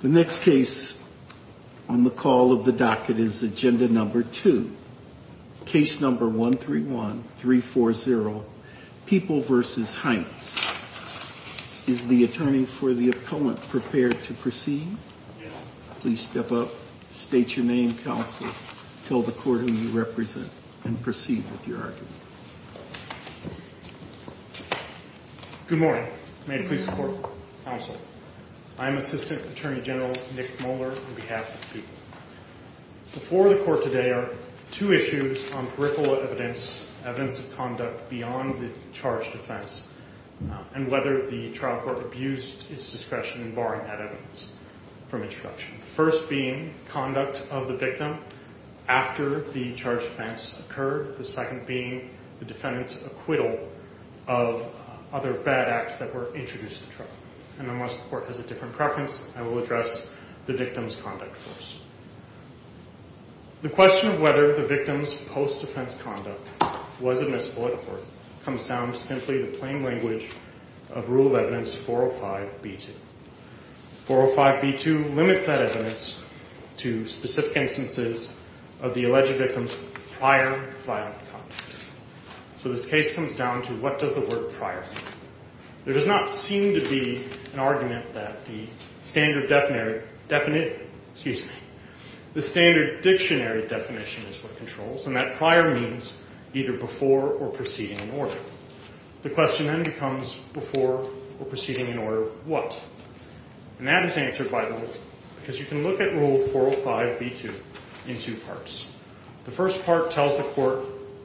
The next case on the call of the docket is agenda number two. Case number 131340 People v. Heintz. Is the attorney for the opponent prepared to proceed? Please step up, state your name, counsel, tell the court who you serve. I am Assistant Attorney General Nick Moeller on behalf of the people. Before the court today are two issues on peripheral evidence, evidence of conduct beyond the charged offense and whether the trial court abused its discretion in barring that evidence from introduction. First being conduct of the victim after the charged offense occurred. The second being the defendant's acquittal of other bad acts that were introduced in the trial. And unless the court has a different preference, I will address the victim's conduct first. The question of whether the victim's post-defense conduct was admissible at the court comes down to simply the plain language of Rule of Evidence 405B2. 405B2 limits that evidence to specific instances of the alleged victim's prior violent conduct. So this case comes down to what does the word prior mean? There does not seem to be an argument that the standard dictionary definition is what controls, and that prior means either before or preceding an order. The question then becomes before or preceding an order what? And that is answered by the rule, because you can look at Rule 405B2 in two parts. The first part tells the court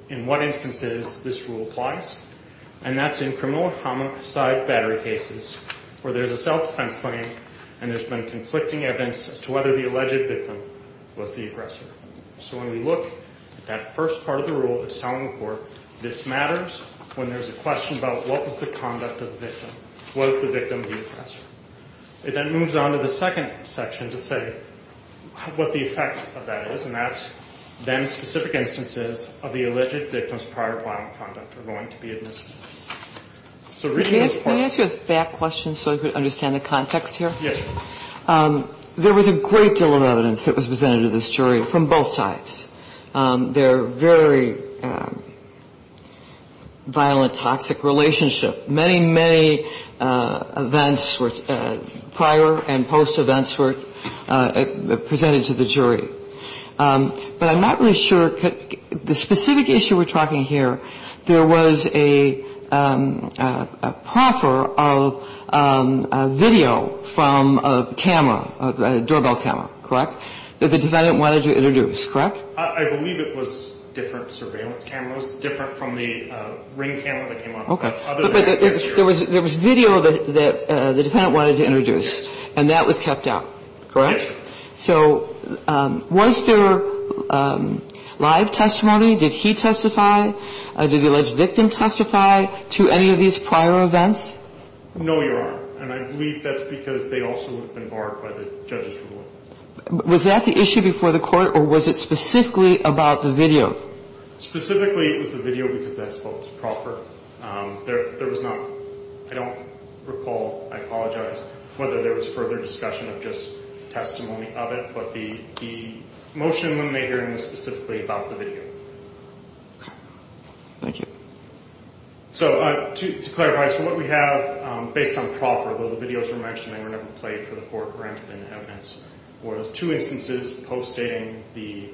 in what instances this rule applies, and that's in criminal homicide battery cases where there's a self-defense claim and there's been conflicting evidence as to whether the alleged victim was the aggressor. So when we look at that first part of the rule, it's telling the court this matters when there's a question about what was the conduct of the victim? Was the victim the aggressor? It then moves on to the second section to say what the effect of that is, and that's then specific instances of the alleged victim's prior violent conduct are going to be admissible. Can I ask you a fact question so I could understand the context here? Yes. There was a great deal of evidence that was presented to this jury from both sides. They're very violent, toxic relationship. Many, many events prior and post events were presented to the jury. But I'm not really sure, the specific issue we're talking here, there was a proffer of video from a camera, a doorbell camera, correct, that the defendant wanted to introduce, correct? I believe it was different surveillance cameras, different from the ring camera that came up. But there was video that the defendant wanted to introduce, and that was kept out, correct? Yes. So was there live testimony? Did he testify? Did the alleged victim testify to any of these prior events? No, Your Honor, and I believe that's because they also have been barred by the judge's rule. Was that the issue before the court, or was it specifically about the video? Specifically, it was the video because that's what was proffered. There was not, I don't recall, I apologize, whether there was further discussion of just testimony of it, but the motion when they heard it was specifically about the video. Okay. Thank you. So to clarify, so what we have based on proffer, although the videos were mentioned, they were never played for the court or entered into evidence, were those two instances post-stating the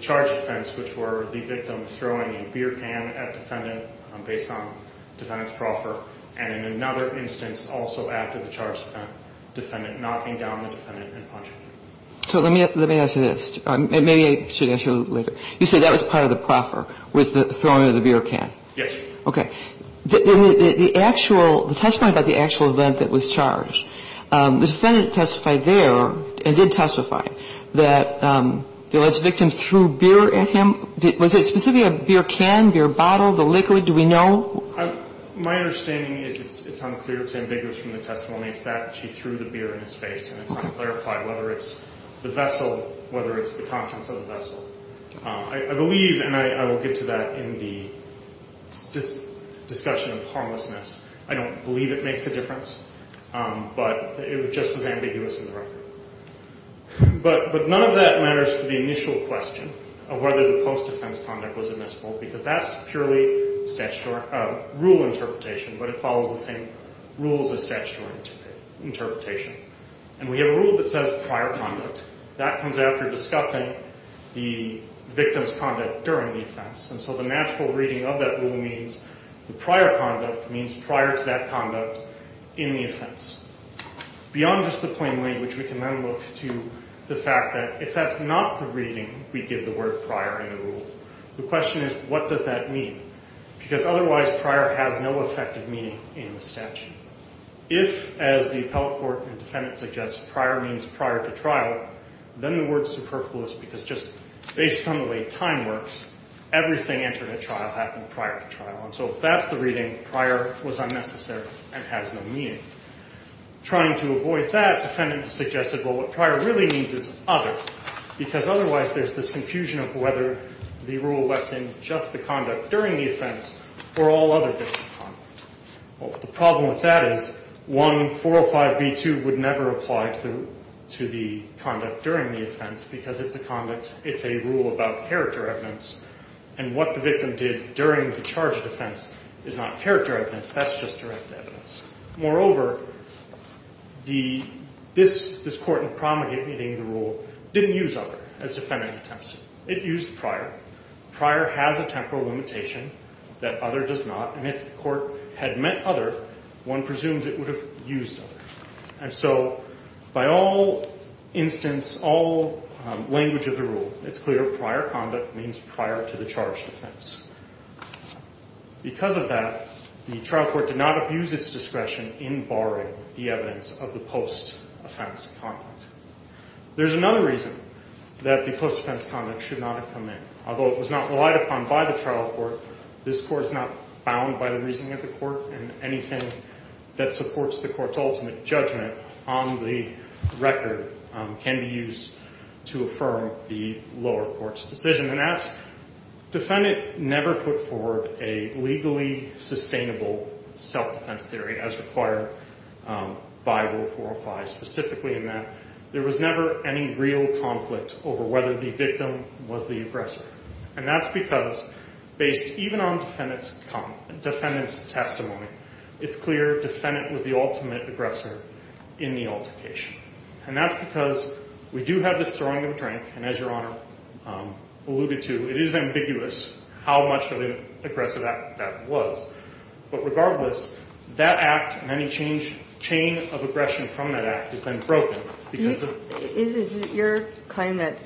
charge offense, which were the victim throwing a beer can at defendant based on defendant's proffer, and in another instance, also after the charge offense, defendant knocking down the defendant and punching him. So let me ask you this, and maybe I should ask you later. You said that was part of the proffer, was the throwing of the beer can? Yes, Your Honor. Okay. The actual, the testimony about the actual event that was charged, the defendant testified there, and did testify, that the alleged victim threw beer at him. Was it specifically a beer can, beer bottle, the liquid? Do we know? My understanding is it's unclear. It's ambiguous from the testimony. It's that she threw the beer in his face, and it's unclarified whether it's the vessel, whether it's the contents of the vessel. I believe, and I will get to that in the discussion of harmlessness, I don't believe it makes a difference, but it just was ambiguous in the record. But none of that matters to the initial question of whether the post-defense conduct was admissible, because that's purely rule interpretation, but it follows the same rules as statutory interpretation. And we have a rule that says prior conduct. That comes after discussing the victim's conduct during the offense. And so the natural reading of that rule means the prior conduct means prior to that conduct in the offense. Beyond just the plain language, we can then look to the fact that if that's not the reading, we give the word prior in the rule. The question is what does that mean? Because otherwise prior has no effective meaning in the statute. If, as the appellate court and defendant suggests, prior means prior to trial, then the word superfluous, because just based on the way time works, everything entered at trial happened prior to trial. And so if that's the reading, prior was unnecessary and has no meaning. Trying to avoid that, defendant has suggested, well, what prior really means is other, because otherwise there's this confusion of whether the rule lets in just the conduct during the offense or all other victim conduct. Well, the problem with that is 1405b2 would never apply to the conduct during the offense, because it's a rule about character evidence, and what the victim did during the charged offense is not character evidence. That's just direct evidence. Moreover, this court in Promegate meeting the rule didn't use other as defendant attempts to. It used prior. Prior has a temporal limitation that other does not, and if the court had meant other, one presumes it would have used other. And so by all instance, all language of the rule, it's clear prior conduct means prior to the charged offense. Because of that, the trial court did not abuse its discretion in barring the evidence of the post-offense conduct. There's another reason that the post-offense conduct should not have come in. Although it was not relied upon by the trial court, this court is not bound by the reasoning of the court, and anything that supports the court's ultimate judgment on the record can be used to affirm the lower court's decision. Defendant never put forward a legally sustainable self-defense theory as required by Rule 405, specifically in that there was never any real conflict over whether the victim was the aggressor. And that's because based even on defendant's testimony, it's clear defendant was the ultimate aggressor in the altercation. And that's because we do have this throwing of a drink, and as Your Honor alluded to, it is ambiguous how much of an aggressive act that was. But regardless, that act and any chain of aggression from that act has been broken. Is it your claim that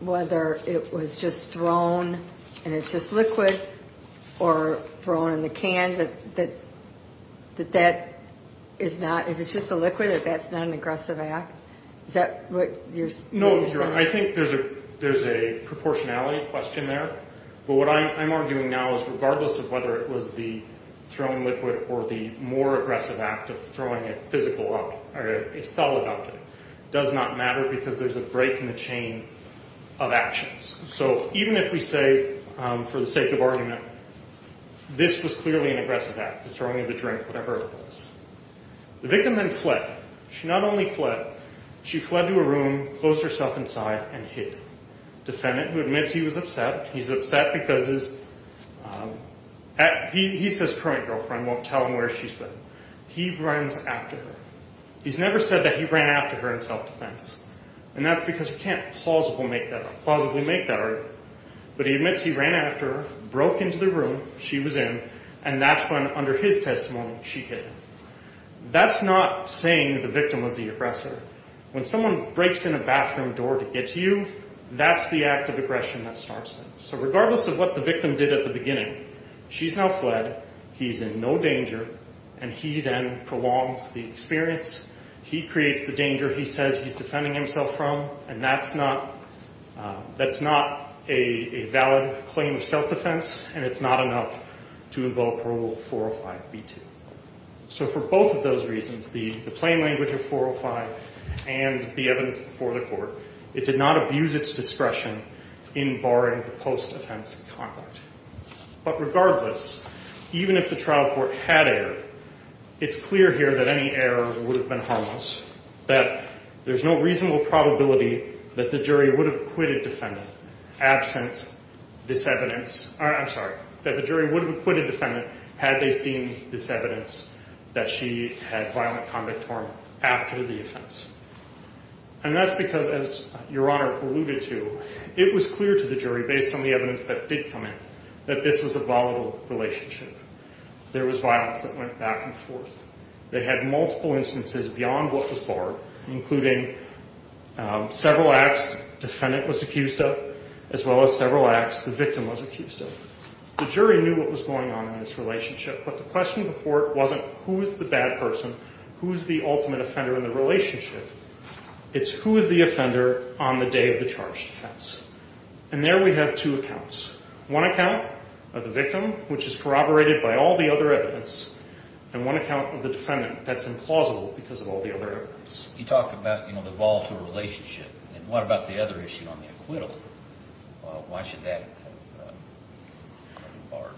whether it was just thrown and it's just liquid or thrown in the can, that that is not – if it's just a liquid, that that's not an aggressive act? Is that what you're saying? No, Your Honor. I think there's a proportionality question there. But what I'm arguing now is regardless of whether it was the thrown liquid or the more aggressive act of throwing a physical object or a solid object, it does not matter because there's a break in the chain of actions. So even if we say for the sake of argument, this was clearly an aggressive act, the throwing of a drink, whatever it was. The victim then fled. She not only fled, she fled to a room, closed herself inside, and hid. Defendant, who admits he was upset, he's upset because he's his current girlfriend, won't tell him where she's been. He runs after her. He's never said that he ran after her in self-defense. And that's because he can't plausibly make that argument. But he admits he ran after her, broke into the room she was in, and that's when, under his testimony, she hid. That's not saying the victim was the aggressor. When someone breaks in a bathroom door to get to you, that's the act of aggression that starts it. So regardless of what the victim did at the beginning, she's now fled, he's in no danger, and he then prolongs the experience. He creates the danger he says he's defending himself from, and that's not a valid claim of self-defense, and it's not enough to involve Parole 405b2. So for both of those reasons, the plain language of 405 and the evidence before the court, it did not abuse its discretion in barring the post-offense conduct. But regardless, even if the trial court had error, it's clear here that any error would have been harmless, that there's no reasonable probability that the jury would have acquitted defendant had they seen this evidence that she had violent conduct after the offense. And that's because, as Your Honor alluded to, it was clear to the jury, based on the evidence that did come in, that this was a volatile relationship. There was violence that went back and forth. They had multiple instances beyond what was barred, including several acts defendant was accused of, as well as several acts the victim was accused of. The jury knew what was going on in this relationship, but the question before it wasn't who is the bad person, who is the ultimate offender in the relationship. It's who is the offender on the day of the charged offense. And there we have two accounts. One account of the victim, which is corroborated by all the other evidence, and one account of the defendant that's implausible because of all the other evidence. You talk about the volatile relationship, and what about the other issue on the acquittal? Why should that be barred?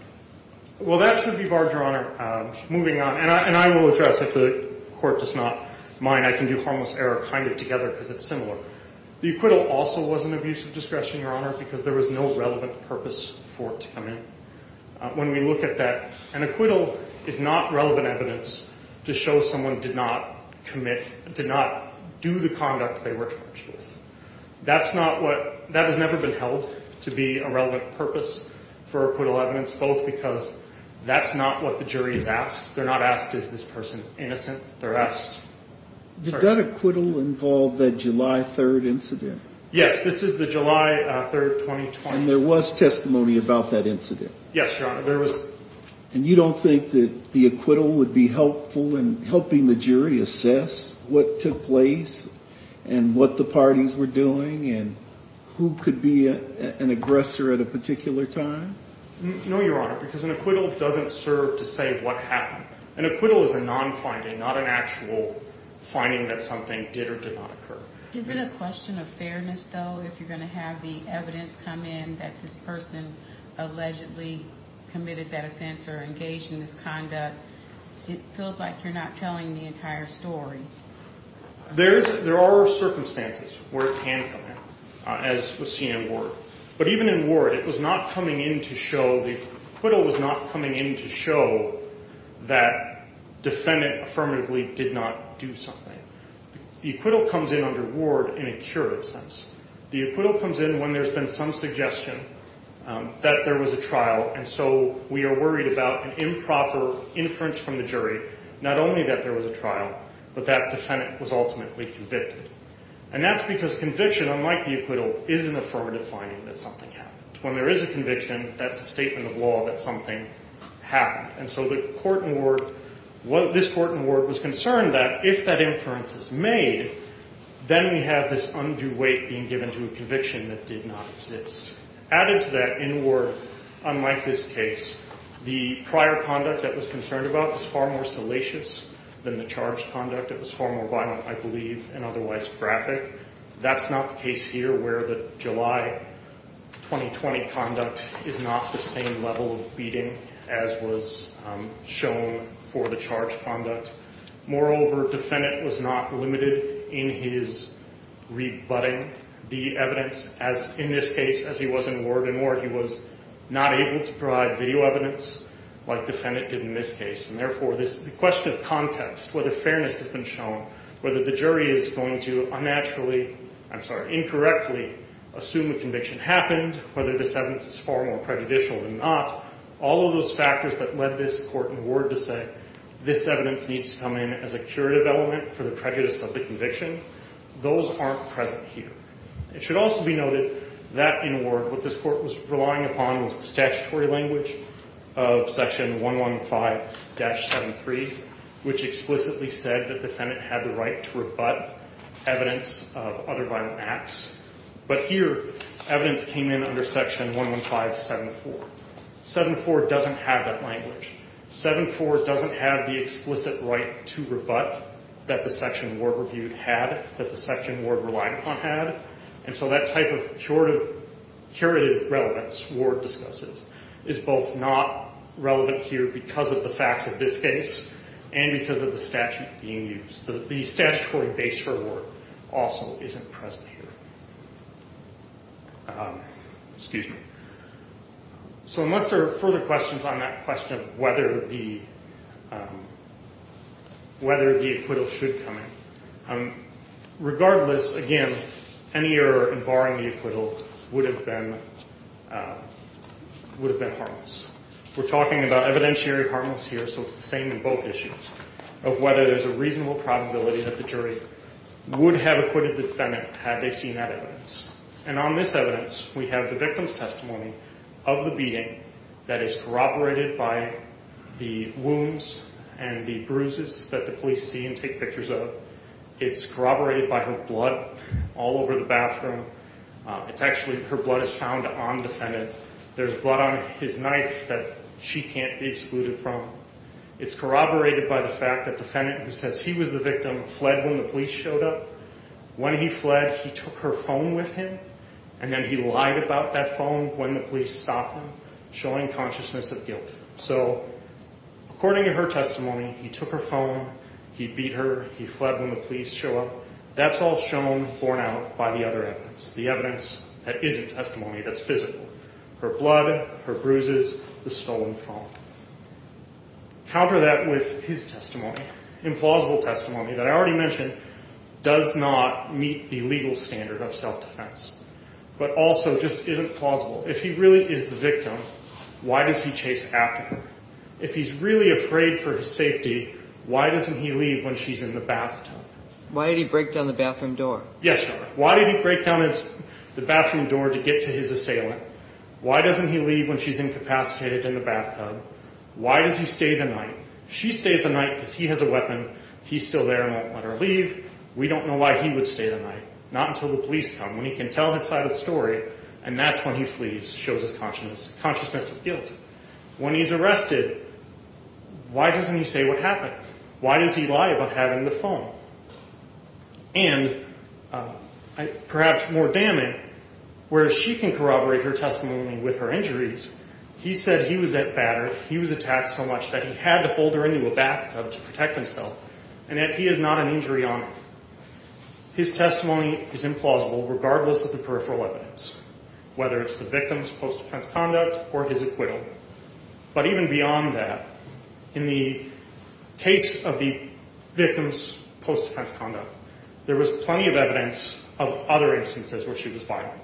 Well, that should be barred, Your Honor. Moving on, and I will address, if the court does not mind, I can do harmless error kind of together because it's similar. The acquittal also was an abuse of discretion, Your Honor, because there was no relevant purpose for it to come in. When we look at that, an acquittal is not relevant evidence to show someone did not commit, did not do the conduct they were charged with. That's not what – that has never been held to be a relevant purpose for acquittal evidence, both because that's not what the jury has asked. They're not asked is this person innocent. They're asked – Did that acquittal involve the July 3rd incident? Yes, this is the July 3rd, 2020. And there was testimony about that incident? Yes, Your Honor, there was. And you don't think that the acquittal would be helpful in helping the jury assess what took place and what the parties were doing and who could be an aggressor at a particular time? No, Your Honor, because an acquittal doesn't serve to say what happened. An acquittal is a non-finding, not an actual finding that something did or did not occur. Is it a question of fairness, though, if you're going to have the evidence come in that this person allegedly committed that offense or engaged in this conduct? It feels like you're not telling the entire story. There are circumstances where it can come in, as was seen in Ward. But even in Ward, it was not coming in to show – the acquittal was not coming in to show that defendant affirmatively did not do something. The acquittal comes in under Ward in a curative sense. The acquittal comes in when there's been some suggestion that there was a trial, and so we are worried about an improper inference from the jury, not only that there was a trial, but that defendant was ultimately convicted. And that's because conviction, unlike the acquittal, is an affirmative finding that something happened. When there is a conviction, that's a statement of law that something happened. And so the court in Ward – this court in Ward was concerned that if that inference is made, then we have this undue weight being given to a conviction that did not exist. Added to that, in Ward, unlike this case, the prior conduct that was concerned about was far more salacious than the charged conduct. It was far more violent, I believe, and otherwise graphic. That's not the case here where the July 2020 conduct is not the same level of beating as was shown for the charged conduct. Moreover, defendant was not limited in his rebutting the evidence. In this case, as he was in Ward in Ward, he was not able to provide video evidence like defendant did in this case. And therefore, the question of context, whether fairness has been shown, whether the jury is going to unnaturally – I'm sorry – incorrectly assume a conviction happened, whether this evidence is far more prejudicial than not, all of those factors that led this court in Ward to say, this evidence needs to come in as a curative element for the prejudice of the conviction, those aren't present here. It should also be noted that in Ward, what this court was relying upon was the statutory language of Section 115-73, which explicitly said that defendant had the right to rebut evidence of other violent acts. But here, evidence came in under Section 115-74. 7-4 doesn't have that language. 7-4 doesn't have the explicit right to rebut that the section Ward reviewed had, that the section Ward relied upon had. And so that type of curative relevance Ward discusses is both not relevant here because of the facts of this case, and because of the statute being used. The statutory base for Ward also isn't present here. So unless there are further questions on that question of whether the acquittal should come in, regardless, again, any error in barring the acquittal would have been harmless. We're talking about evidentiary harmless here, so it's the same in both issues, of whether there's a reasonable probability that the jury would have acquitted the defendant had they seen that evidence. And on this evidence, we have the victim's testimony of the beating that is corroborated by the wounds and the bruises that the police see and take pictures of. It's corroborated by her blood all over the bathroom. It's actually, her blood is found on the defendant. There's blood on his knife that she can't be excluded from. It's corroborated by the fact that the defendant, who says he was the victim, fled when the police showed up. When he fled, he took her phone with him, and then he lied about that phone when the police stopped him, showing consciousness of guilt. So according to her testimony, he took her phone, he beat her, he fled when the police showed up. That's all shown, borne out, by the other evidence, the evidence that isn't testimony that's physical, her blood, her bruises, the stolen phone. Counter that with his testimony, implausible testimony that I already mentioned, does not meet the legal standard of self-defense, but also just isn't plausible. If he really is the victim, why does he chase after her? If he's really afraid for his safety, why doesn't he leave when she's in the bathtub? Why did he break down the bathroom door? Yes, Your Honor. Why did he break down the bathroom door to get to his assailant? Why doesn't he leave when she's incapacitated in the bathtub? Why does he stay the night? She stays the night because he has a weapon. He's still there and won't let her leave. We don't know why he would stay the night, not until the police come, when he can tell his side of the story, and that's when he flees, shows his consciousness of guilt. When he's arrested, why doesn't he say what happened? Why does he lie about having the phone? And perhaps more damning, whereas she can corroborate her testimony with her injuries, he said he was attacked so much that he had to hold her into a bathtub to protect himself, and that he is not an injury on her. His testimony is implausible, regardless of the peripheral evidence, whether it's the victim's post-defense conduct or his acquittal. But even beyond that, in the case of the victim's post-defense conduct, there was plenty of evidence of other instances where she was violent.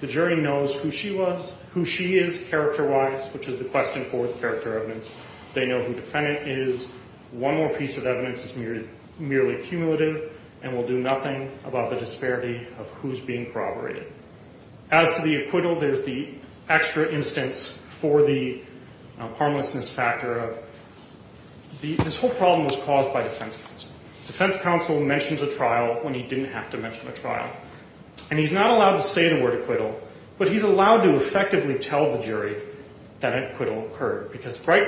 The jury knows who she was, who she is character-wise, which is the question for character evidence. They know who the defendant is. One more piece of evidence is merely cumulative and will do nothing about the disparity of who's being corroborated. As to the acquittal, there's the extra instance for the harmlessness factor. This whole problem was caused by defense counsel. Defense counsel mentions a trial when he didn't have to mention a trial. And he's not allowed to say the word acquittal, but he's allowed to effectively tell the jury that an acquittal occurred, because right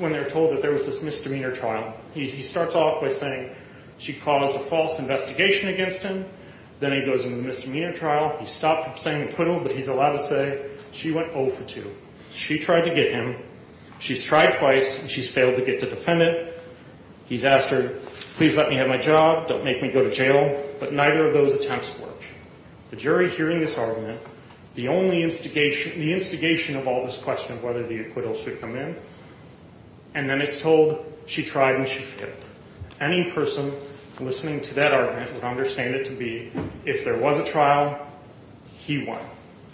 when they're told that there was this misdemeanor trial, he starts off by saying she caused a false investigation against him. Then he goes into the misdemeanor trial. He stopped saying acquittal, but he's allowed to say she went 0 for 2. She tried to get him. She's tried twice, and she's failed to get the defendant. He's asked her, please let me have my job. Don't make me go to jail. But neither of those attempts work. The jury, hearing this argument, the only instigation of all this question of whether the acquittal should come in, and then it's told she tried and she failed. Any person listening to that argument would understand it to be if there was a trial, he won.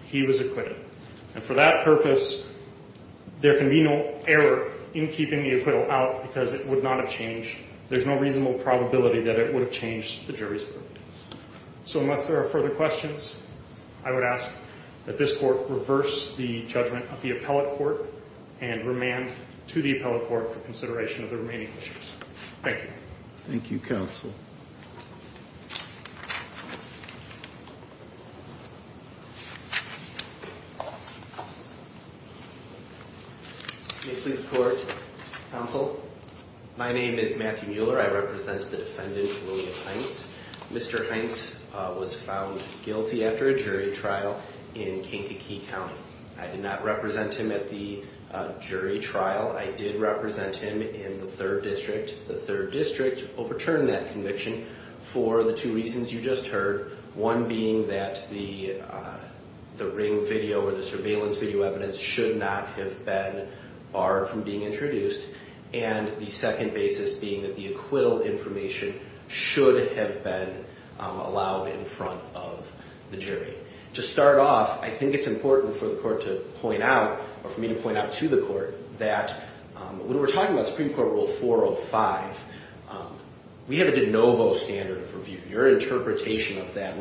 He was acquitted. And for that purpose, there can be no error in keeping the acquittal out because it would not have changed. There's no reasonable probability that it would have changed the jury's verdict. So unless there are further questions, I would ask that this court reverse the judgment of the appellate court and remand to the appellate court for consideration of the remaining issues. Thank you. Thank you, Counsel. May it please the Court. Counsel, my name is Matthew Mueller. I represent the defendant, William Hines. Mr. Hines was found guilty after a jury trial in Kankakee County. I did not represent him at the jury trial. I did represent him in the 3rd District. The 3rd District overturned that conviction for the two reasons you just heard, one being that the ring video or the surveillance video evidence should not have been barred from being introduced, and the second basis being that the acquittal information should have been allowed in front of the jury. To start off, I think it's important for the Court to point out, or for me to point out to the Court, that when we're talking about Supreme Court Rule 405, we have a de novo standard of review. Your interpretation of that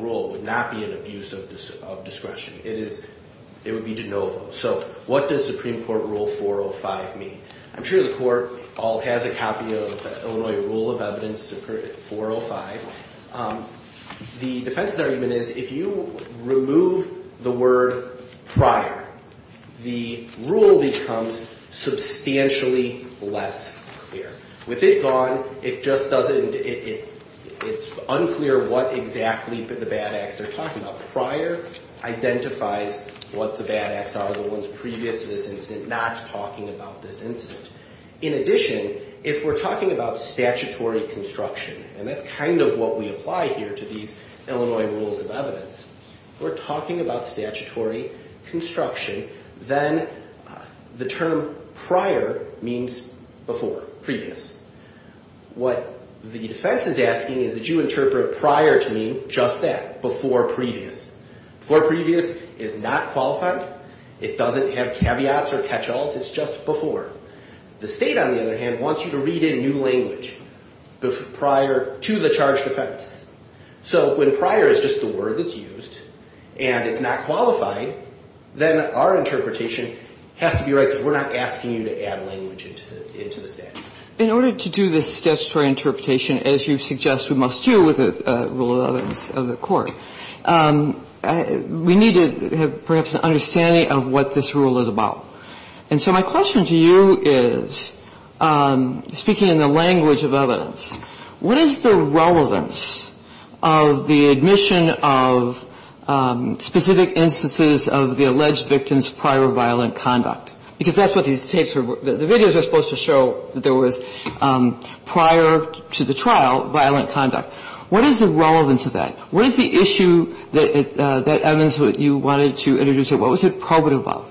rule would not be an abuse of discretion. It would be de novo. So what does Supreme Court Rule 405 mean? I'm sure the Court all has a copy of Illinois Rule of Evidence 405. The defense's argument is if you remove the word prior, the rule becomes substantially less clear. With it gone, it's unclear what exactly the bad acts they're talking about. Prior identifies what the bad acts are, the ones previous to this incident not talking about this incident. In addition, if we're talking about statutory construction, and that's kind of what we apply here to these Illinois Rules of Evidence, we're talking about statutory construction, then the term prior means before, previous. What the defense is asking is that you interpret prior to mean just that, before previous. Before previous is not qualified. It doesn't have caveats or catch-alls. It's just before. The state, on the other hand, wants you to read in new language. Prior to the charged offense. So when prior is just the word that's used, and it's not qualified, then our interpretation has to be right, because we're not asking you to add language into the statute. In order to do this statutory interpretation, as you suggest we must do with the Rule of Evidence of the Court, we need to have perhaps an understanding of what this rule is about. And so my question to you is, speaking in the language of evidence, what is the relevance of the admission of specific instances of the alleged victim's prior violent conduct? Because that's what these tapes are – the videos are supposed to show that there was prior to the trial violent conduct. What is the relevance of that? What is the issue that you wanted to introduce? What was it probative of?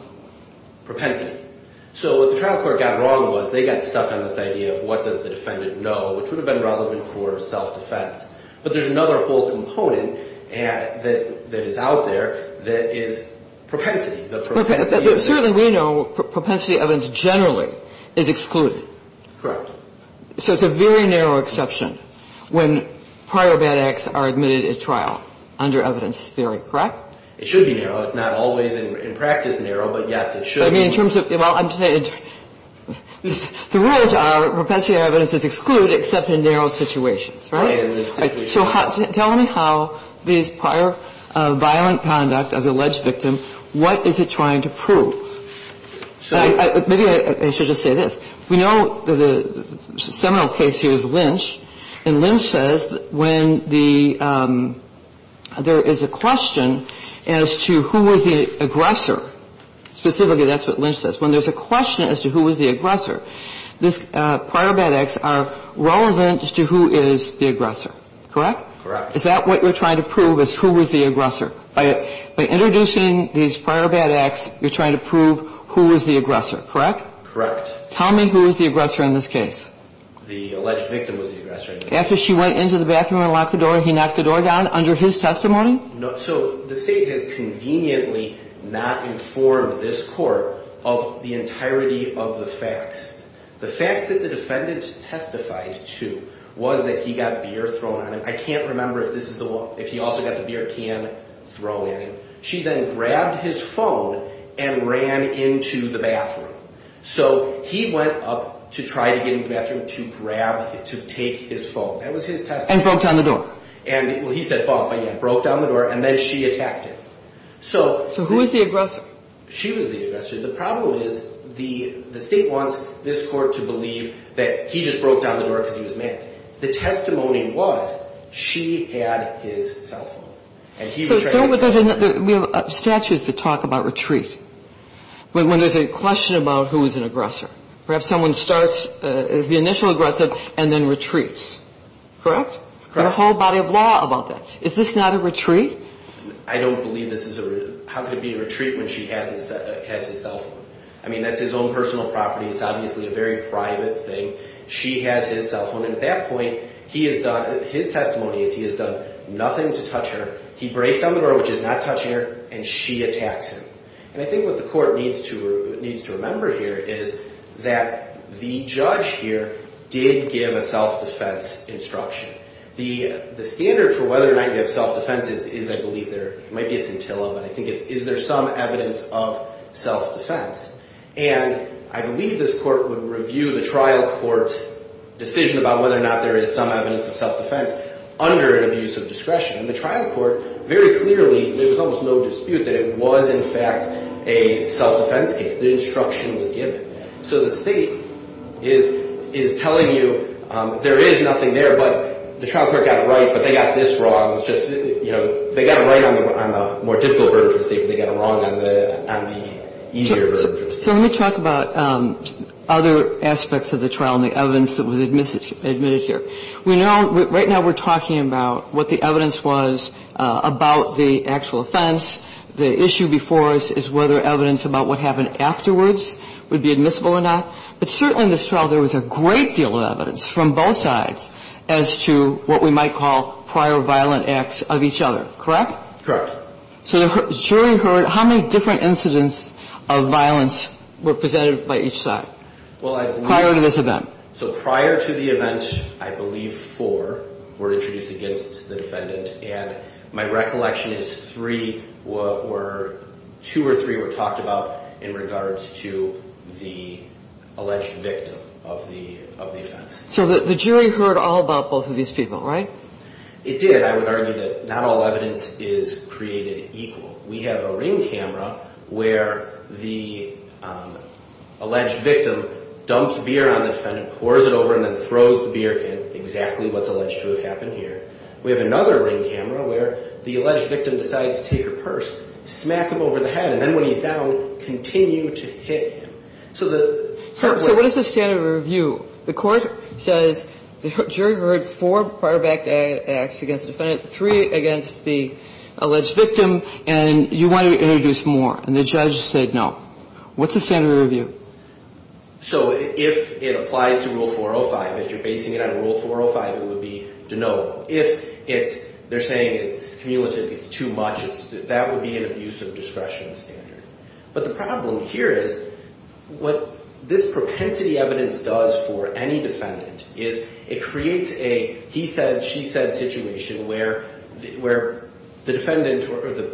So what the trial court got wrong was they got stuck on this idea of what does the defendant know, which would have been relevant for self-defense. But there's another whole component that is out there that is propensity. Certainly we know propensity evidence generally is excluded. Correct. So it's a very narrow exception when prior bad acts are admitted at trial under evidence theory, correct? It should be narrow. It's not always in practice narrow, but, yes, it should be. I mean, in terms of – well, I'm saying – the rules are propensity evidence is excluded except in narrow situations, right? Right. And in situations – So tell me how this prior violent conduct of the alleged victim, what is it trying to prove? Maybe I should just say this. We know the seminal case here is Lynch. And Lynch says when the – there is a question as to who was the aggressor, specifically that's what Lynch says. When there's a question as to who was the aggressor, this prior bad acts are relevant to who is the aggressor, correct? Correct. Is that what you're trying to prove is who was the aggressor? By introducing these prior bad acts, you're trying to prove who was the aggressor, correct? Correct. Tell me who was the aggressor in this case. The alleged victim was the aggressor in this case. After she went into the bathroom and locked the door, he knocked the door down under his testimony? No. So the state has conveniently not informed this court of the entirety of the facts. The facts that the defendant testified to was that he got beer thrown at him. I can't remember if this is the – if he also got the beer can thrown at him. She then grabbed his phone and ran into the bathroom. So he went up to try to get into the bathroom to grab – to take his phone. That was his testimony. And broke down the door. And – well, he said phone, but, yeah, broke down the door, and then she attacked him. So – So who was the aggressor? She was the aggressor. The problem is the state wants this court to believe that he just broke down the door because he was mad. The testimony was she had his cell phone, and he was trying to – So don't – we have statutes that talk about retreat. When there's a question about who was an aggressor. Perhaps someone starts as the initial aggressive and then retreats. Correct. There's a whole body of law about that. Is this not a retreat? I don't believe this is a – how could it be a retreat when she has his cell phone? I mean, that's his own personal property. It's obviously a very private thing. She has his cell phone. And at that point, he has done – his testimony is he has done nothing to touch her. He breaks down the door, which is not touching her, and she attacks him. And I think what the court needs to remember here is that the judge here did give a self-defense instruction. The standard for whether or not you have self-defense is, I believe there – it might be a scintilla, but I think it's is there some evidence of self-defense. And I believe this court would review the trial court's decision about whether or not there is some evidence of self-defense under an abuse of discretion. In the trial court, very clearly, there was almost no dispute that it was, in fact, a self-defense case. The instruction was given. So the State is telling you there is nothing there, but the trial court got it right, but they got this wrong. It's just, you know, they got it right on the more difficult burden for the State, but they got it wrong on the easier burden for the State. So let me talk about other aspects of the trial and the evidence that was admitted here. We know – right now, we're talking about what the evidence was about the actual offense. The issue before us is whether evidence about what happened afterwards would be admissible or not. But certainly in this trial, there was a great deal of evidence from both sides as to what we might call prior violent acts of each other. Correct? Correct. So the jury heard – how many different incidents of violence were presented by each side prior to this event? So prior to the event, I believe four were introduced against the defendant. And my recollection is three were – two or three were talked about in regards to the alleged victim of the offense. So the jury heard all about both of these people, right? It did. I would argue that not all evidence is created equal. We have a ring camera where the alleged victim dumps beer on the defendant, pours it over, and then throws the beer in, exactly what's alleged to have happened here. We have another ring camera where the alleged victim decides to take her purse, smack him over the head, and then when he's down, continue to hit him. So the – So what is the standard of review? The court says the jury heard four prior violent acts against the defendant, three against the alleged victim, and you want to introduce more. And the judge said no. What's the standard of review? So if it applies to Rule 405, if you're basing it on Rule 405, it would be no. If it's – they're saying it's cumulative, it's too much, that would be an abuse of discretion standard. But the problem here is what this propensity evidence does for any defendant is it creates a he said, she said situation where the defendant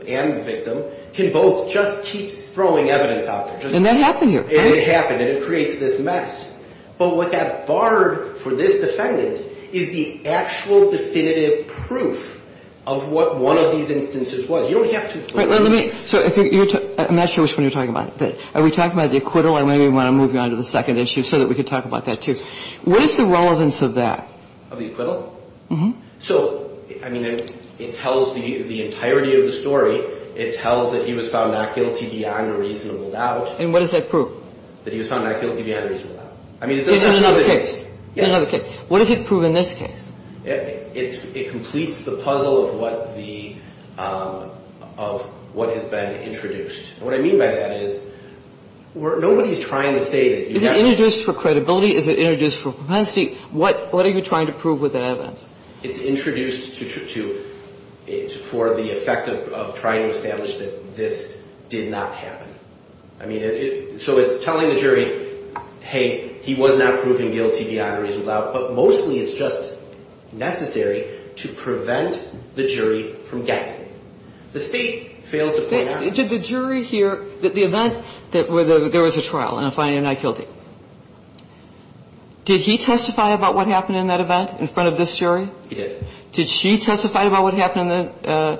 and the victim can both just keep throwing evidence out there. And that happened here. It would happen, and it creates this mess. But what that barred for this defendant is the actual definitive proof of what one of these instances was. You don't have to – But let me – so if you're – I'm not sure which one you're talking about. Are we talking about the acquittal? I maybe want to move you on to the second issue so that we can talk about that, too. What is the relevance of that? Of the acquittal? Mm-hmm. So, I mean, it tells the entirety of the story. It tells that he was found not guilty beyond a reasonable doubt. And what does that prove? That he was found not guilty beyond a reasonable doubt. I mean, it doesn't have to do with this. In another case. What does it prove in this case? It completes the puzzle of what the – of what has been introduced. And what I mean by that is nobody's trying to say that you have – Is it introduced for credibility? Is it introduced for propensity? What are you trying to prove with that evidence? It's introduced to – for the effect of trying to establish that this did not happen. I mean, so it's telling the jury, hey, he was not proven guilty beyond a reasonable doubt. But mostly it's just necessary to prevent the jury from guessing. The State fails to point out. Did the jury hear that the event that there was a trial and a finding of not guilty, did he testify about what happened in that event in front of this jury? He did. Did she testify about what happened in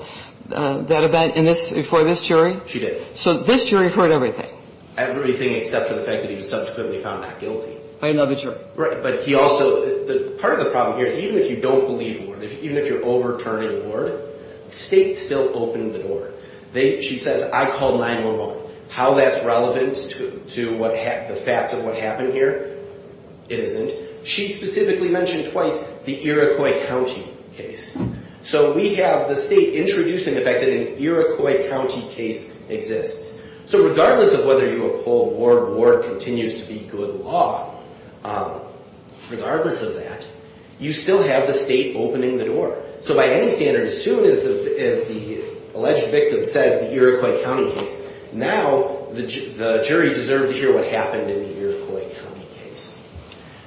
that event in this – before this jury? She did. So this jury heard everything. Everything except for the fact that he was subsequently found not guilty. By another jury. Right. But he also – part of the problem here is even if you don't believe Ward, even if you're overturning Ward, States still open the door. They – she says, I call 911. How that's relevant to what – the facts of what happened here, it isn't. She specifically mentioned twice the Iroquois County case. So we have the State introducing the fact that an Iroquois County case exists. So regardless of whether you uphold Ward, Ward continues to be good law, regardless of that, you still have the State opening the door. So by any standard, as soon as the alleged victim says the Iroquois County case, now the jury deserves to hear what happened in the Iroquois County case.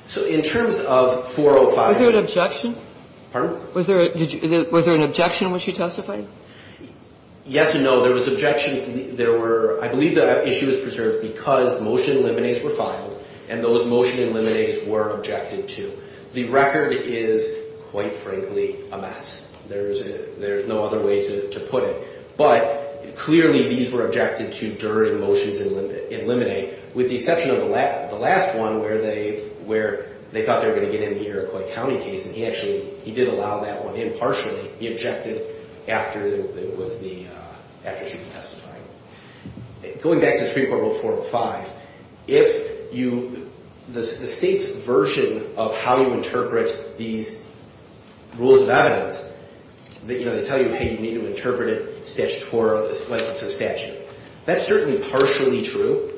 So in terms of 405 – Was there an objection? Pardon? Was there an objection in which you testified? Yes and no. Well, there was objections. There were – I believe the issue was preserved because motion in limines were filed and those motion in limines were objected to. The record is, quite frankly, a mess. There's no other way to put it. But clearly these were objected to during motions in limine, with the exception of the last one where they thought they were going to get in the Iroquois County case, and he actually – he did allow that one in partially. He objected after it was the – after she was testified. Going back to Supreme Court Rule 405, if you – the State's version of how you interpret these rules of evidence, you know, they tell you, hey, you need to interpret it statutorily, like it's a statute. That's certainly partially true,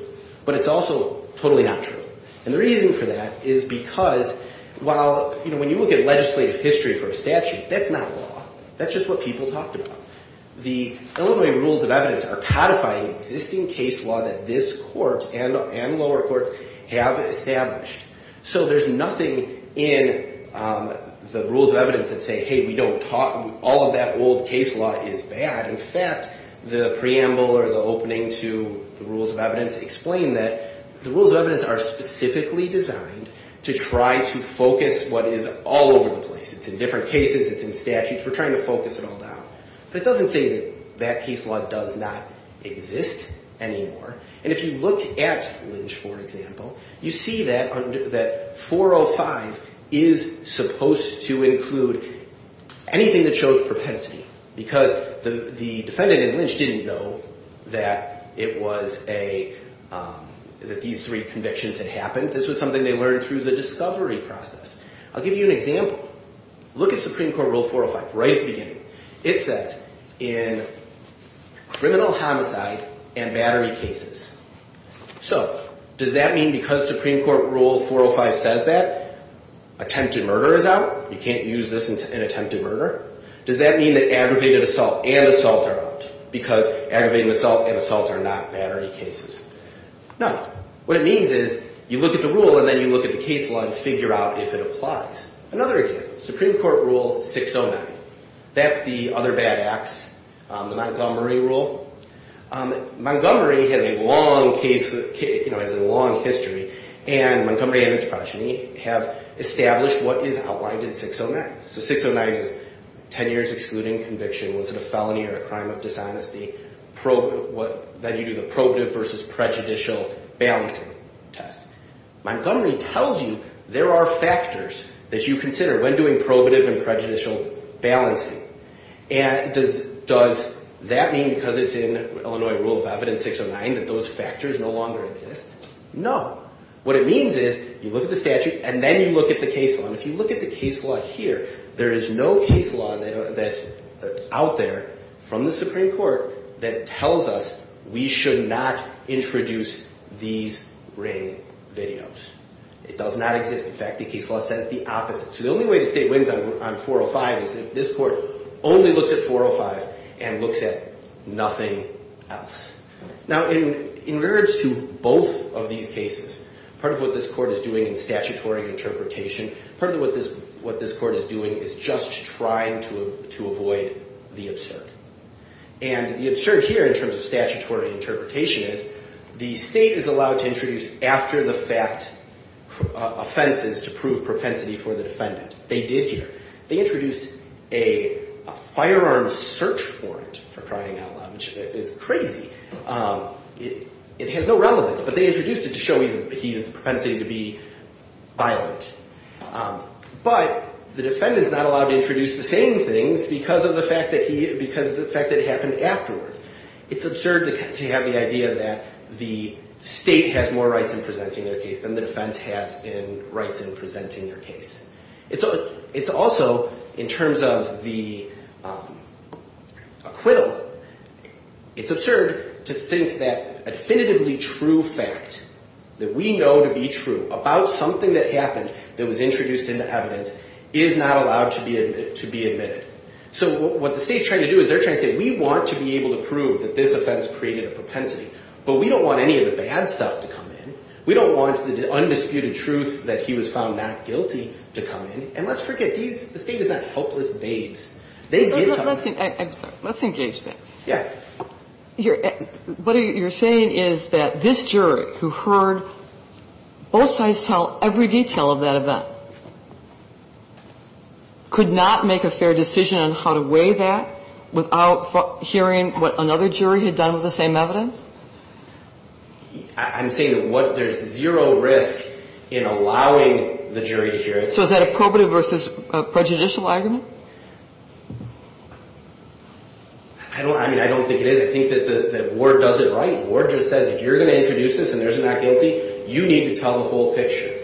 but it's also totally not true. And the reason for that is because while – you know, when you look at legislative history for a statute, that's not law. That's just what people talked about. The Illinois rules of evidence are codifying existing case law that this court and lower courts have established. So there's nothing in the rules of evidence that say, hey, we don't – all of that old case law is bad. In fact, the preamble or the opening to the rules of evidence explain that the rules of evidence are specifically designed to try to focus what is all over the place. It's in different cases. It's in statutes. We're trying to focus it all down. But it doesn't say that that case law does not exist anymore. And if you look at Lynch, for example, you see that 405 is supposed to include anything that shows propensity because the defendant in Lynch didn't know that it was a – that these three convictions had happened. This was something they learned through the discovery process. I'll give you an example. Look at Supreme Court Rule 405 right at the beginning. It says, in criminal homicide and battery cases. So does that mean because Supreme Court Rule 405 says that, attempted murder is out? You can't use this in attempted murder? Does that mean that aggravated assault and assault are out? Because aggravated assault and assault are not battery cases. No. What it means is you look at the rule and then you look at the case law and figure out if it applies. Another example. Supreme Court Rule 609. That's the other bad acts, the Montgomery Rule. Montgomery has a long case – has a long history. And Montgomery and Vincepracini have established what is outlined in 609. So 609 is 10 years excluding conviction. Was it a felony or a crime of dishonesty? Then you do the probative versus prejudicial balancing test. Montgomery tells you there are factors that you consider when doing probative and prejudicial balancing. And does that mean because it's in Illinois Rule of Evidence 609 that those factors no longer exist? No. What it means is you look at the statute and then you look at the case law. Here, there is no case law out there from the Supreme Court that tells us we should not introduce these ring videos. It does not exist. In fact, the case law says the opposite. So the only way the state wins on 405 is if this court only looks at 405 and looks at nothing else. Now, in regards to both of these cases, part of what this court is doing in statutory interpretation, part of what this court is doing is just trying to avoid the absurd. And the absurd here in terms of statutory interpretation is the state is allowed to introduce after-the-fact offenses to prove propensity for the defendant. They did here. They introduced a firearms search warrant, for crying out loud, which is crazy. It has no relevance. But they introduced it to show he has the propensity to be violent. But the defendant is not allowed to introduce the same things because of the fact that it happened afterwards. It's absurd to have the idea that the state has more rights in presenting their case than the defense has in rights in presenting their case. It's also, in terms of the acquittal, it's absurd to think that a definitively true fact that we know to be true about something that happened that was introduced into evidence is not allowed to be admitted. So what the state is trying to do is they're trying to say we want to be able to prove that this offense created a propensity, but we don't want any of the bad stuff to come in. We don't want the undisputed truth that he was found not guilty to come in. And let's forget, the state is not helpless babes. They did tell us. I'm sorry. Let's engage that. What you're saying is that this jury who heard both sides tell every detail of that event could not make a fair decision on how to weigh that without hearing what another jury had done with the same evidence? I'm saying that there's zero risk in allowing the jury to hear it. So is that a probative versus prejudicial argument? I don't think it is. I think that Ward does it right. Ward just says if you're going to introduce this and there's a not guilty, you need to tell the whole picture.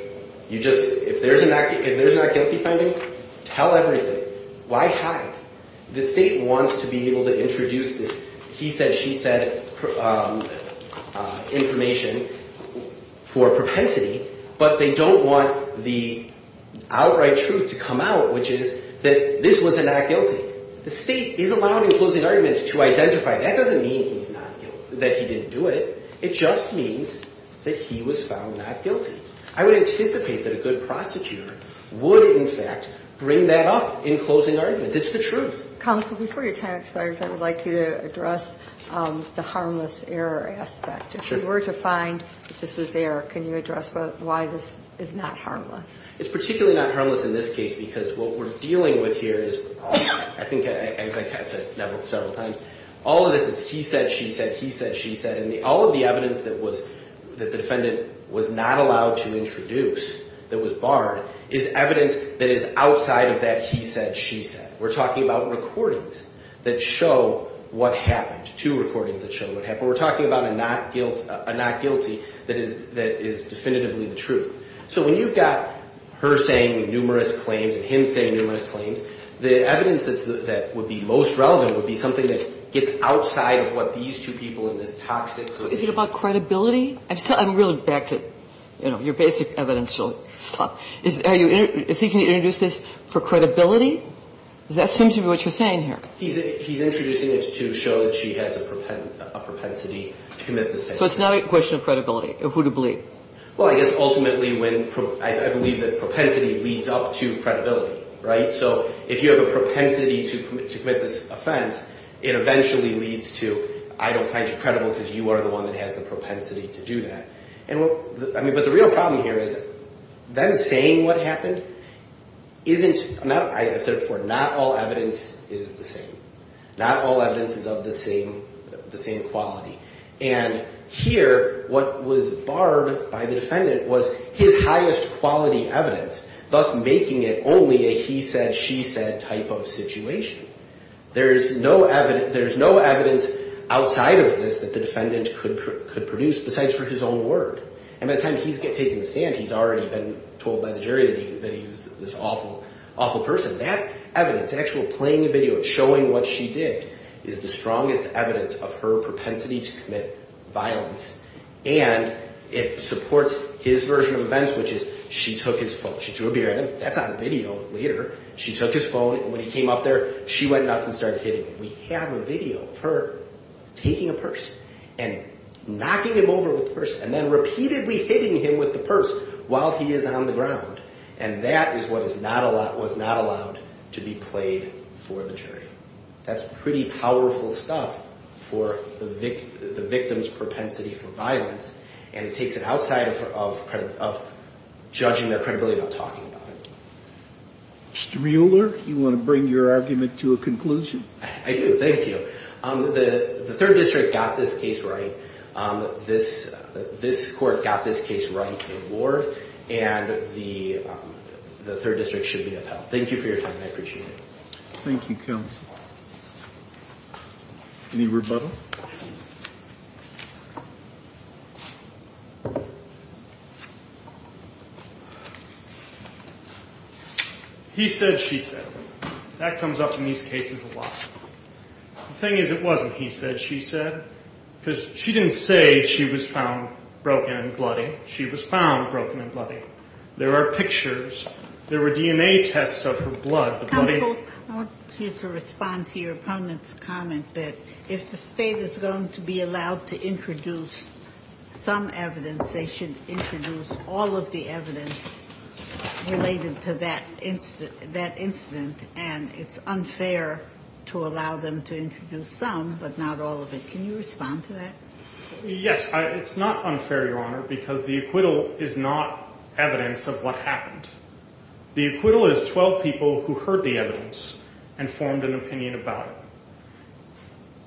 If there's a not guilty finding, tell everything. Why hide? The state wants to be able to introduce this he said, she said information for propensity, but they don't want the outright truth to come out, which is that this was a not guilty. The state is allowing closing arguments to identify. That doesn't mean that he didn't do it. It just means that he was found not guilty. I would anticipate that a good prosecutor would, in fact, bring that up in closing arguments. It's the truth. Counsel, before your time expires, I would like you to address the harmless error aspect. If you were to find that this was there, can you address why this is not harmless? It's particularly not harmless in this case because what we're dealing with here is, I think as I've said several times, all of this is he said, she said, he said, she said. All of the evidence that the defendant was not allowed to introduce, that was barred, is evidence that is outside of that he said, she said. We're talking about recordings that show what happened, two recordings that show what happened. We're talking about a not guilty that is definitively the truth. So when you've got her saying numerous claims and him saying numerous claims, the evidence that would be most relevant would be something that gets outside of what these two people in this toxic condition. Is it about credibility? I'm really back to, you know, your basic evidence. Can you introduce this for credibility? That seems to be what you're saying here. He's introducing it to show that she has a propensity to commit this type of crime. So it's not a question of credibility or who to believe? Well, I guess ultimately I believe that propensity leads up to credibility, right? So if you have a propensity to commit this offense, it eventually leads to I don't find you credible because you are the one that has the propensity to do that. But the real problem here is then saying what happened isn't, I've said it before, not all evidence is the same. Not all evidence is of the same quality. And here what was barred by the defendant was his highest quality evidence, thus making it only a he said, she said type of situation. There's no evidence outside of this that the defendant could produce besides for his own word. And by the time he's taken the stand, he's already been told by the jury that he was this awful, awful person. That evidence, actually playing the video and showing what she did is the strongest evidence of her propensity to commit violence. And it supports his version of events, which is she took his phone. She threw a beer at him. That's on video later. She took his phone and when he came up there, she went nuts and started hitting him. We have a video of her taking a purse and knocking him over with the purse and then repeatedly hitting him with the purse while he is on the ground. And that is what is not a lot was not allowed to be played for the jury. That's pretty powerful stuff for the victims propensity for violence. And it takes it outside of of of judging their credibility of talking about it. Mr. Mueller, you want to bring your argument to a conclusion? I do. Thank you. The third district got this case right. This this court got this case right in the war and the third district should be upheld. Thank you for your time. I appreciate it. Thank you. Any rebuttal? He said she said that comes up in these cases a lot. Thing is, it wasn't he said she said because she didn't say she was found broken and bloody. She was found broken and bloody. There are pictures. There were DNA tests of her blood. I want you to respond to your opponent's comment that if the state is going to be allowed to introduce some evidence, they should introduce all of the evidence related to that incident, that incident. And it's unfair to allow them to introduce some, but not all of it. Can you respond to that? Yes. It's not unfair, Your Honor, because the acquittal is not evidence of what happened. The acquittal is 12 people who heard the evidence and formed an opinion about it.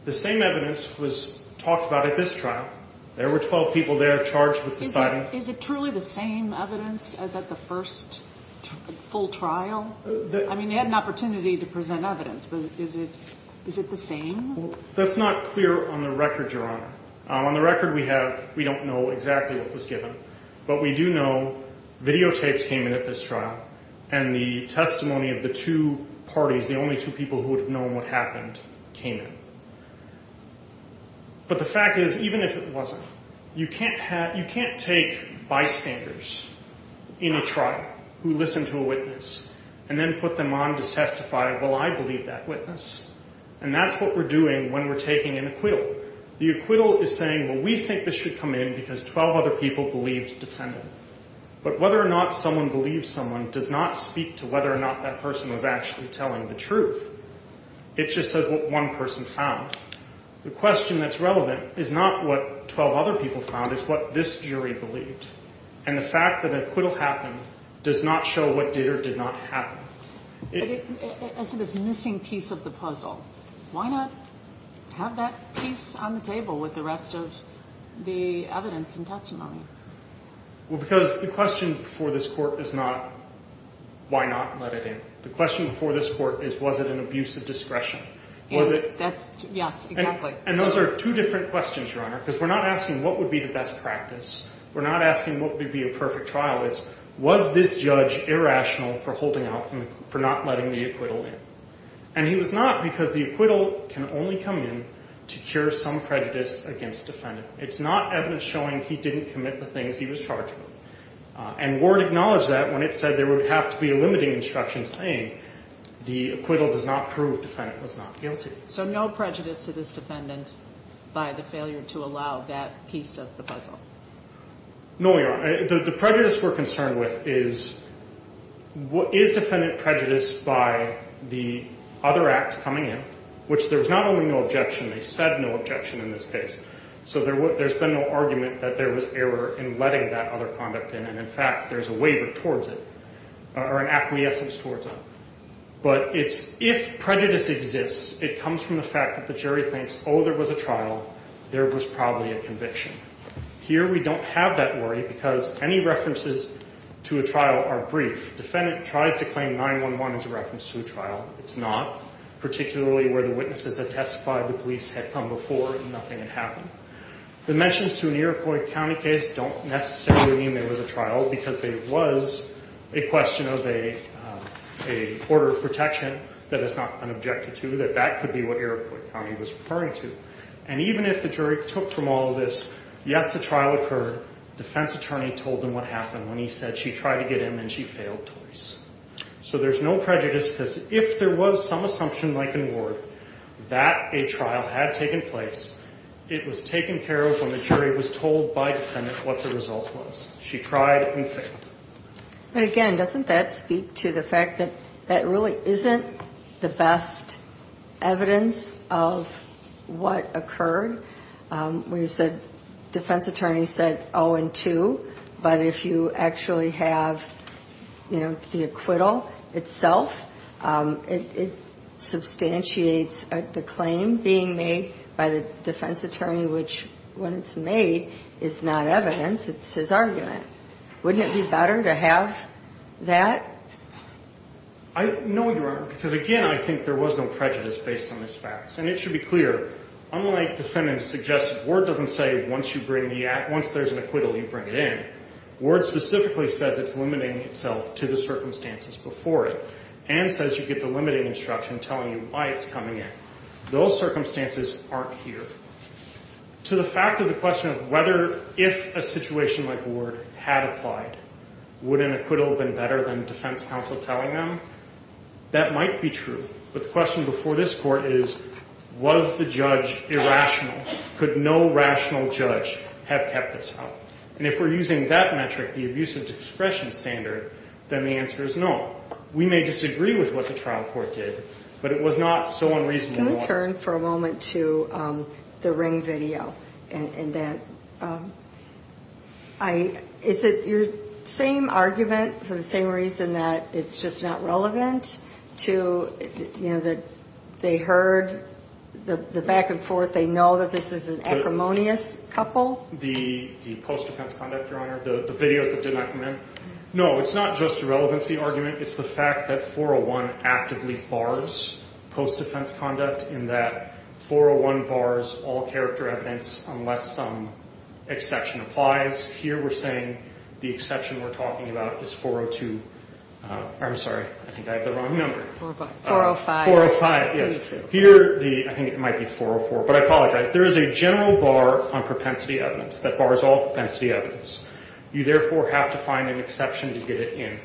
The same evidence was talked about at this trial. There were 12 people there charged with deciding. Is it truly the same evidence as at the first full trial? I mean, they had an opportunity to present evidence, but is it is it the same? That's not clear on the record, Your Honor. On the record, we have we don't know exactly what was given, but we do know videotapes came in at this trial. And the testimony of the two parties, the only two people who would have known what happened, came in. But the fact is, even if it wasn't, you can't have you can't take bystanders in a trial who listen to a witness and then put them on to testify, well, I believe that witness. And that's what we're doing when we're taking an acquittal. The acquittal is saying, well, we think this should come in because 12 other people believed defendant. But whether or not someone believes someone does not speak to whether or not that person was actually telling the truth. It just says what one person found. The question that's relevant is not what 12 other people found. It's what this jury believed. And the fact that acquittal happened does not show what did or did not happen. I see this missing piece of the puzzle. Why not have that piece on the table with the rest of the evidence and testimony? Well, because the question for this court is not why not let it in. The question for this court is was it an abuse of discretion? Was it? Yes, exactly. And those are two different questions, Your Honor, because we're not asking what would be the best practice. We're not asking what would be a perfect trial. It's was this judge irrational for holding out, for not letting the acquittal in. And he was not because the acquittal can only come in to cure some prejudice against defendant. It's not evidence showing he didn't commit the things he was charged with. And Ward acknowledged that when it said there would have to be a limiting instruction saying the acquittal does not prove defendant was not guilty. So no prejudice to this defendant by the failure to allow that piece of the puzzle? No, Your Honor. The prejudice we're concerned with is what is defendant prejudice by the other act coming in, which there's not only no objection. They said no objection in this case. So there's been no argument that there was error in letting that other conduct in. And, in fact, there's a waiver towards it or an acquiescence towards it. But if prejudice exists, it comes from the fact that the jury thinks, oh, there was a trial. There was probably a conviction. Here we don't have that worry because any references to a trial are brief. Defendant tries to claim 9-1-1 as a reference to a trial. It's not. Particularly where the witnesses had testified the police had come before and nothing had happened. The mentions to an Iroquois County case don't necessarily mean there was a trial because there was a question of a order of protection that has not been objected to, that that could be what Iroquois County was referring to. And even if the jury took from all of this, yes, the trial occurred, defense attorney told them what happened when he said she tried to get in and she failed twice. So there's no prejudice because if there was some assumption like an award that a trial had taken place, it was taken care of when the jury was told by defendant what the result was. She tried and failed. But again, doesn't that speak to the fact that that really isn't the best evidence of what occurred? We said defense attorney said, oh, and two. But if you actually have, you know, the acquittal itself, it substantiates the claim being made by the defense attorney, which when it's made is not evidence. It's his argument. Wouldn't it be better to have that? I know you are, because again, I think there was no prejudice based on this facts. And it should be clear, unlike defendants suggested, Ward doesn't say once you bring the act, once there's an acquittal, you bring it in. Ward specifically says it's limiting itself to the circumstances before it and says you get the limiting instruction telling you why it's coming in. Those circumstances aren't here. To the fact of the question of whether if a situation like Ward had applied, would an acquittal have been better than defense counsel telling them? That might be true. But the question before this court is, was the judge irrational? Could no rational judge have kept this up? And if we're using that metric, the abuse of discretion standard, then the answer is no. We may disagree with what the trial court did, but it was not so unreasonable. I'm going to turn for a moment to the Ring video. Is it your same argument for the same reason that it's just not relevant to, you know, that they heard the back and forth, they know that this is an acrimonious couple? The post-defense conduct, Your Honor, the videos that did not come in? No, it's not just a relevancy argument. It's the fact that 401 actively bars post-defense conduct in that 401 bars all character evidence unless some exception applies. Here we're saying the exception we're talking about is 402. I'm sorry, I think I have the wrong number. 405. 405, yes. Here, I think it might be 404, but I apologize. There is a general bar on propensity evidence that bars all propensity evidence. You therefore have to find an exception to get it in.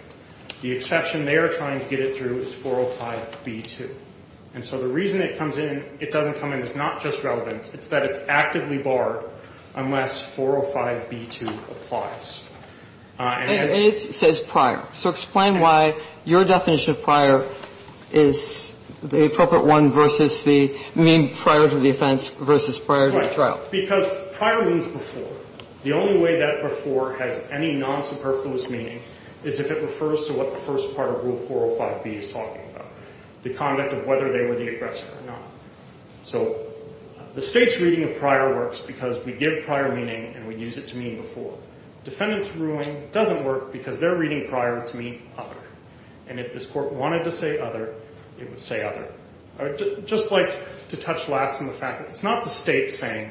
The exception they are trying to get it through is 405b2. And so the reason it comes in, it doesn't come in, it's not just relevant, it's that it's actively barred unless 405b2 applies. And it says prior. So explain why your definition of prior is the appropriate one versus the mean prior to the offense versus prior to the trial. Because prior means before. The only way that before has any non-superfluous meaning is if it refers to what the first part of rule 405b is talking about, the conduct of whether they were the aggressor or not. So the state's reading of prior works because we give prior meaning and we use it to mean before. Defendant's ruling doesn't work because they're reading prior to mean other. And if this court wanted to say other, it would say other. Just like to touch last on the fact that it's not the state saying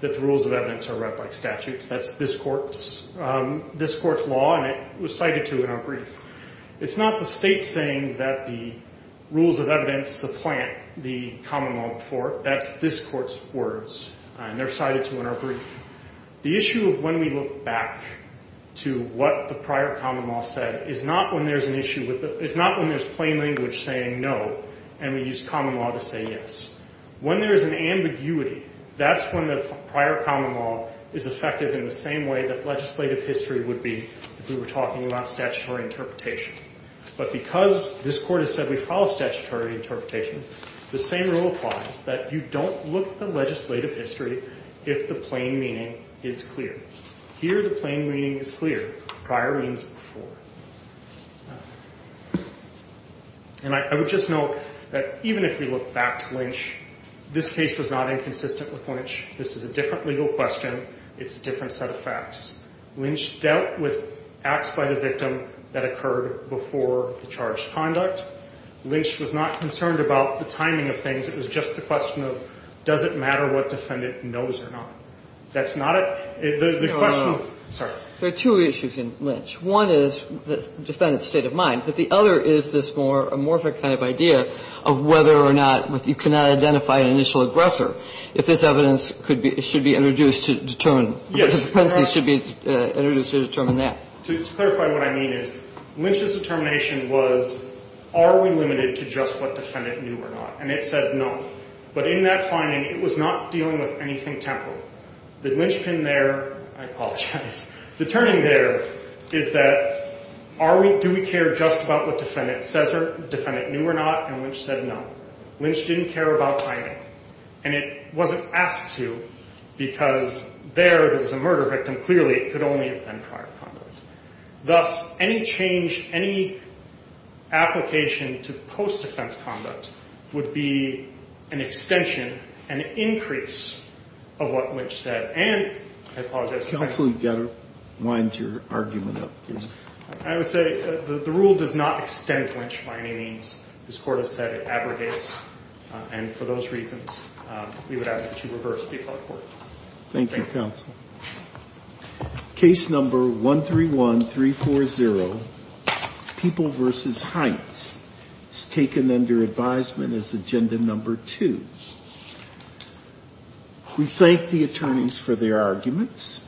that the rules of evidence are read like statutes. That's this court's law, and it was cited to in our brief. It's not the state saying that the rules of evidence supplant the common law before. That's this court's words, and they're cited to in our brief. The issue of when we look back to what the prior common law said is not when there's plain language saying no and we use common law to say yes. When there's an ambiguity, that's when the prior common law is effective in the same way that legislative history would be if we were talking about statutory interpretation. But because this court has said we follow statutory interpretation, the same rule applies, that you don't look at the legislative history if the plain meaning is clear. Here the plain meaning is clear. Prior means before. And I would just note that even if we look back to Lynch, this case was not inconsistent with Lynch. This is a different legal question. It's a different set of facts. Lynch dealt with acts by the victim that occurred before the charged conduct. Lynch was not concerned about the timing of things. It was just the question of does it matter what defendant knows or not. That's not a the question. I'm sorry. There are two issues in Lynch. One is the defendant's state of mind, but the other is this more amorphic kind of idea of whether or not you cannot identify an initial aggressor. So if this evidence should be introduced to determine, should be introduced to determine that. To clarify what I mean is Lynch's determination was are we limited to just what defendant knew or not. And it said no. But in that finding, it was not dealing with anything temporal. The Lynch pin there, I apologize, the turning there is that do we care just about what defendant says or defendant knew or not. And Lynch said no. Lynch didn't care about timing. And it wasn't asked to because there was a murder victim. Clearly, it could only have been prior conduct. Thus, any change, any application to post-defense conduct would be an extension, an increase of what Lynch said. And I apologize. Counsel, you've got to wind your argument up, please. I would say the rule does not extend Lynch by any means. This court has said it abrogates. And for those reasons, we would ask that you reverse the appellate court. Thank you, Counsel. Case number 131340, People v. Heights, is taken under advisement as agenda number two. We thank the attorneys for their arguments.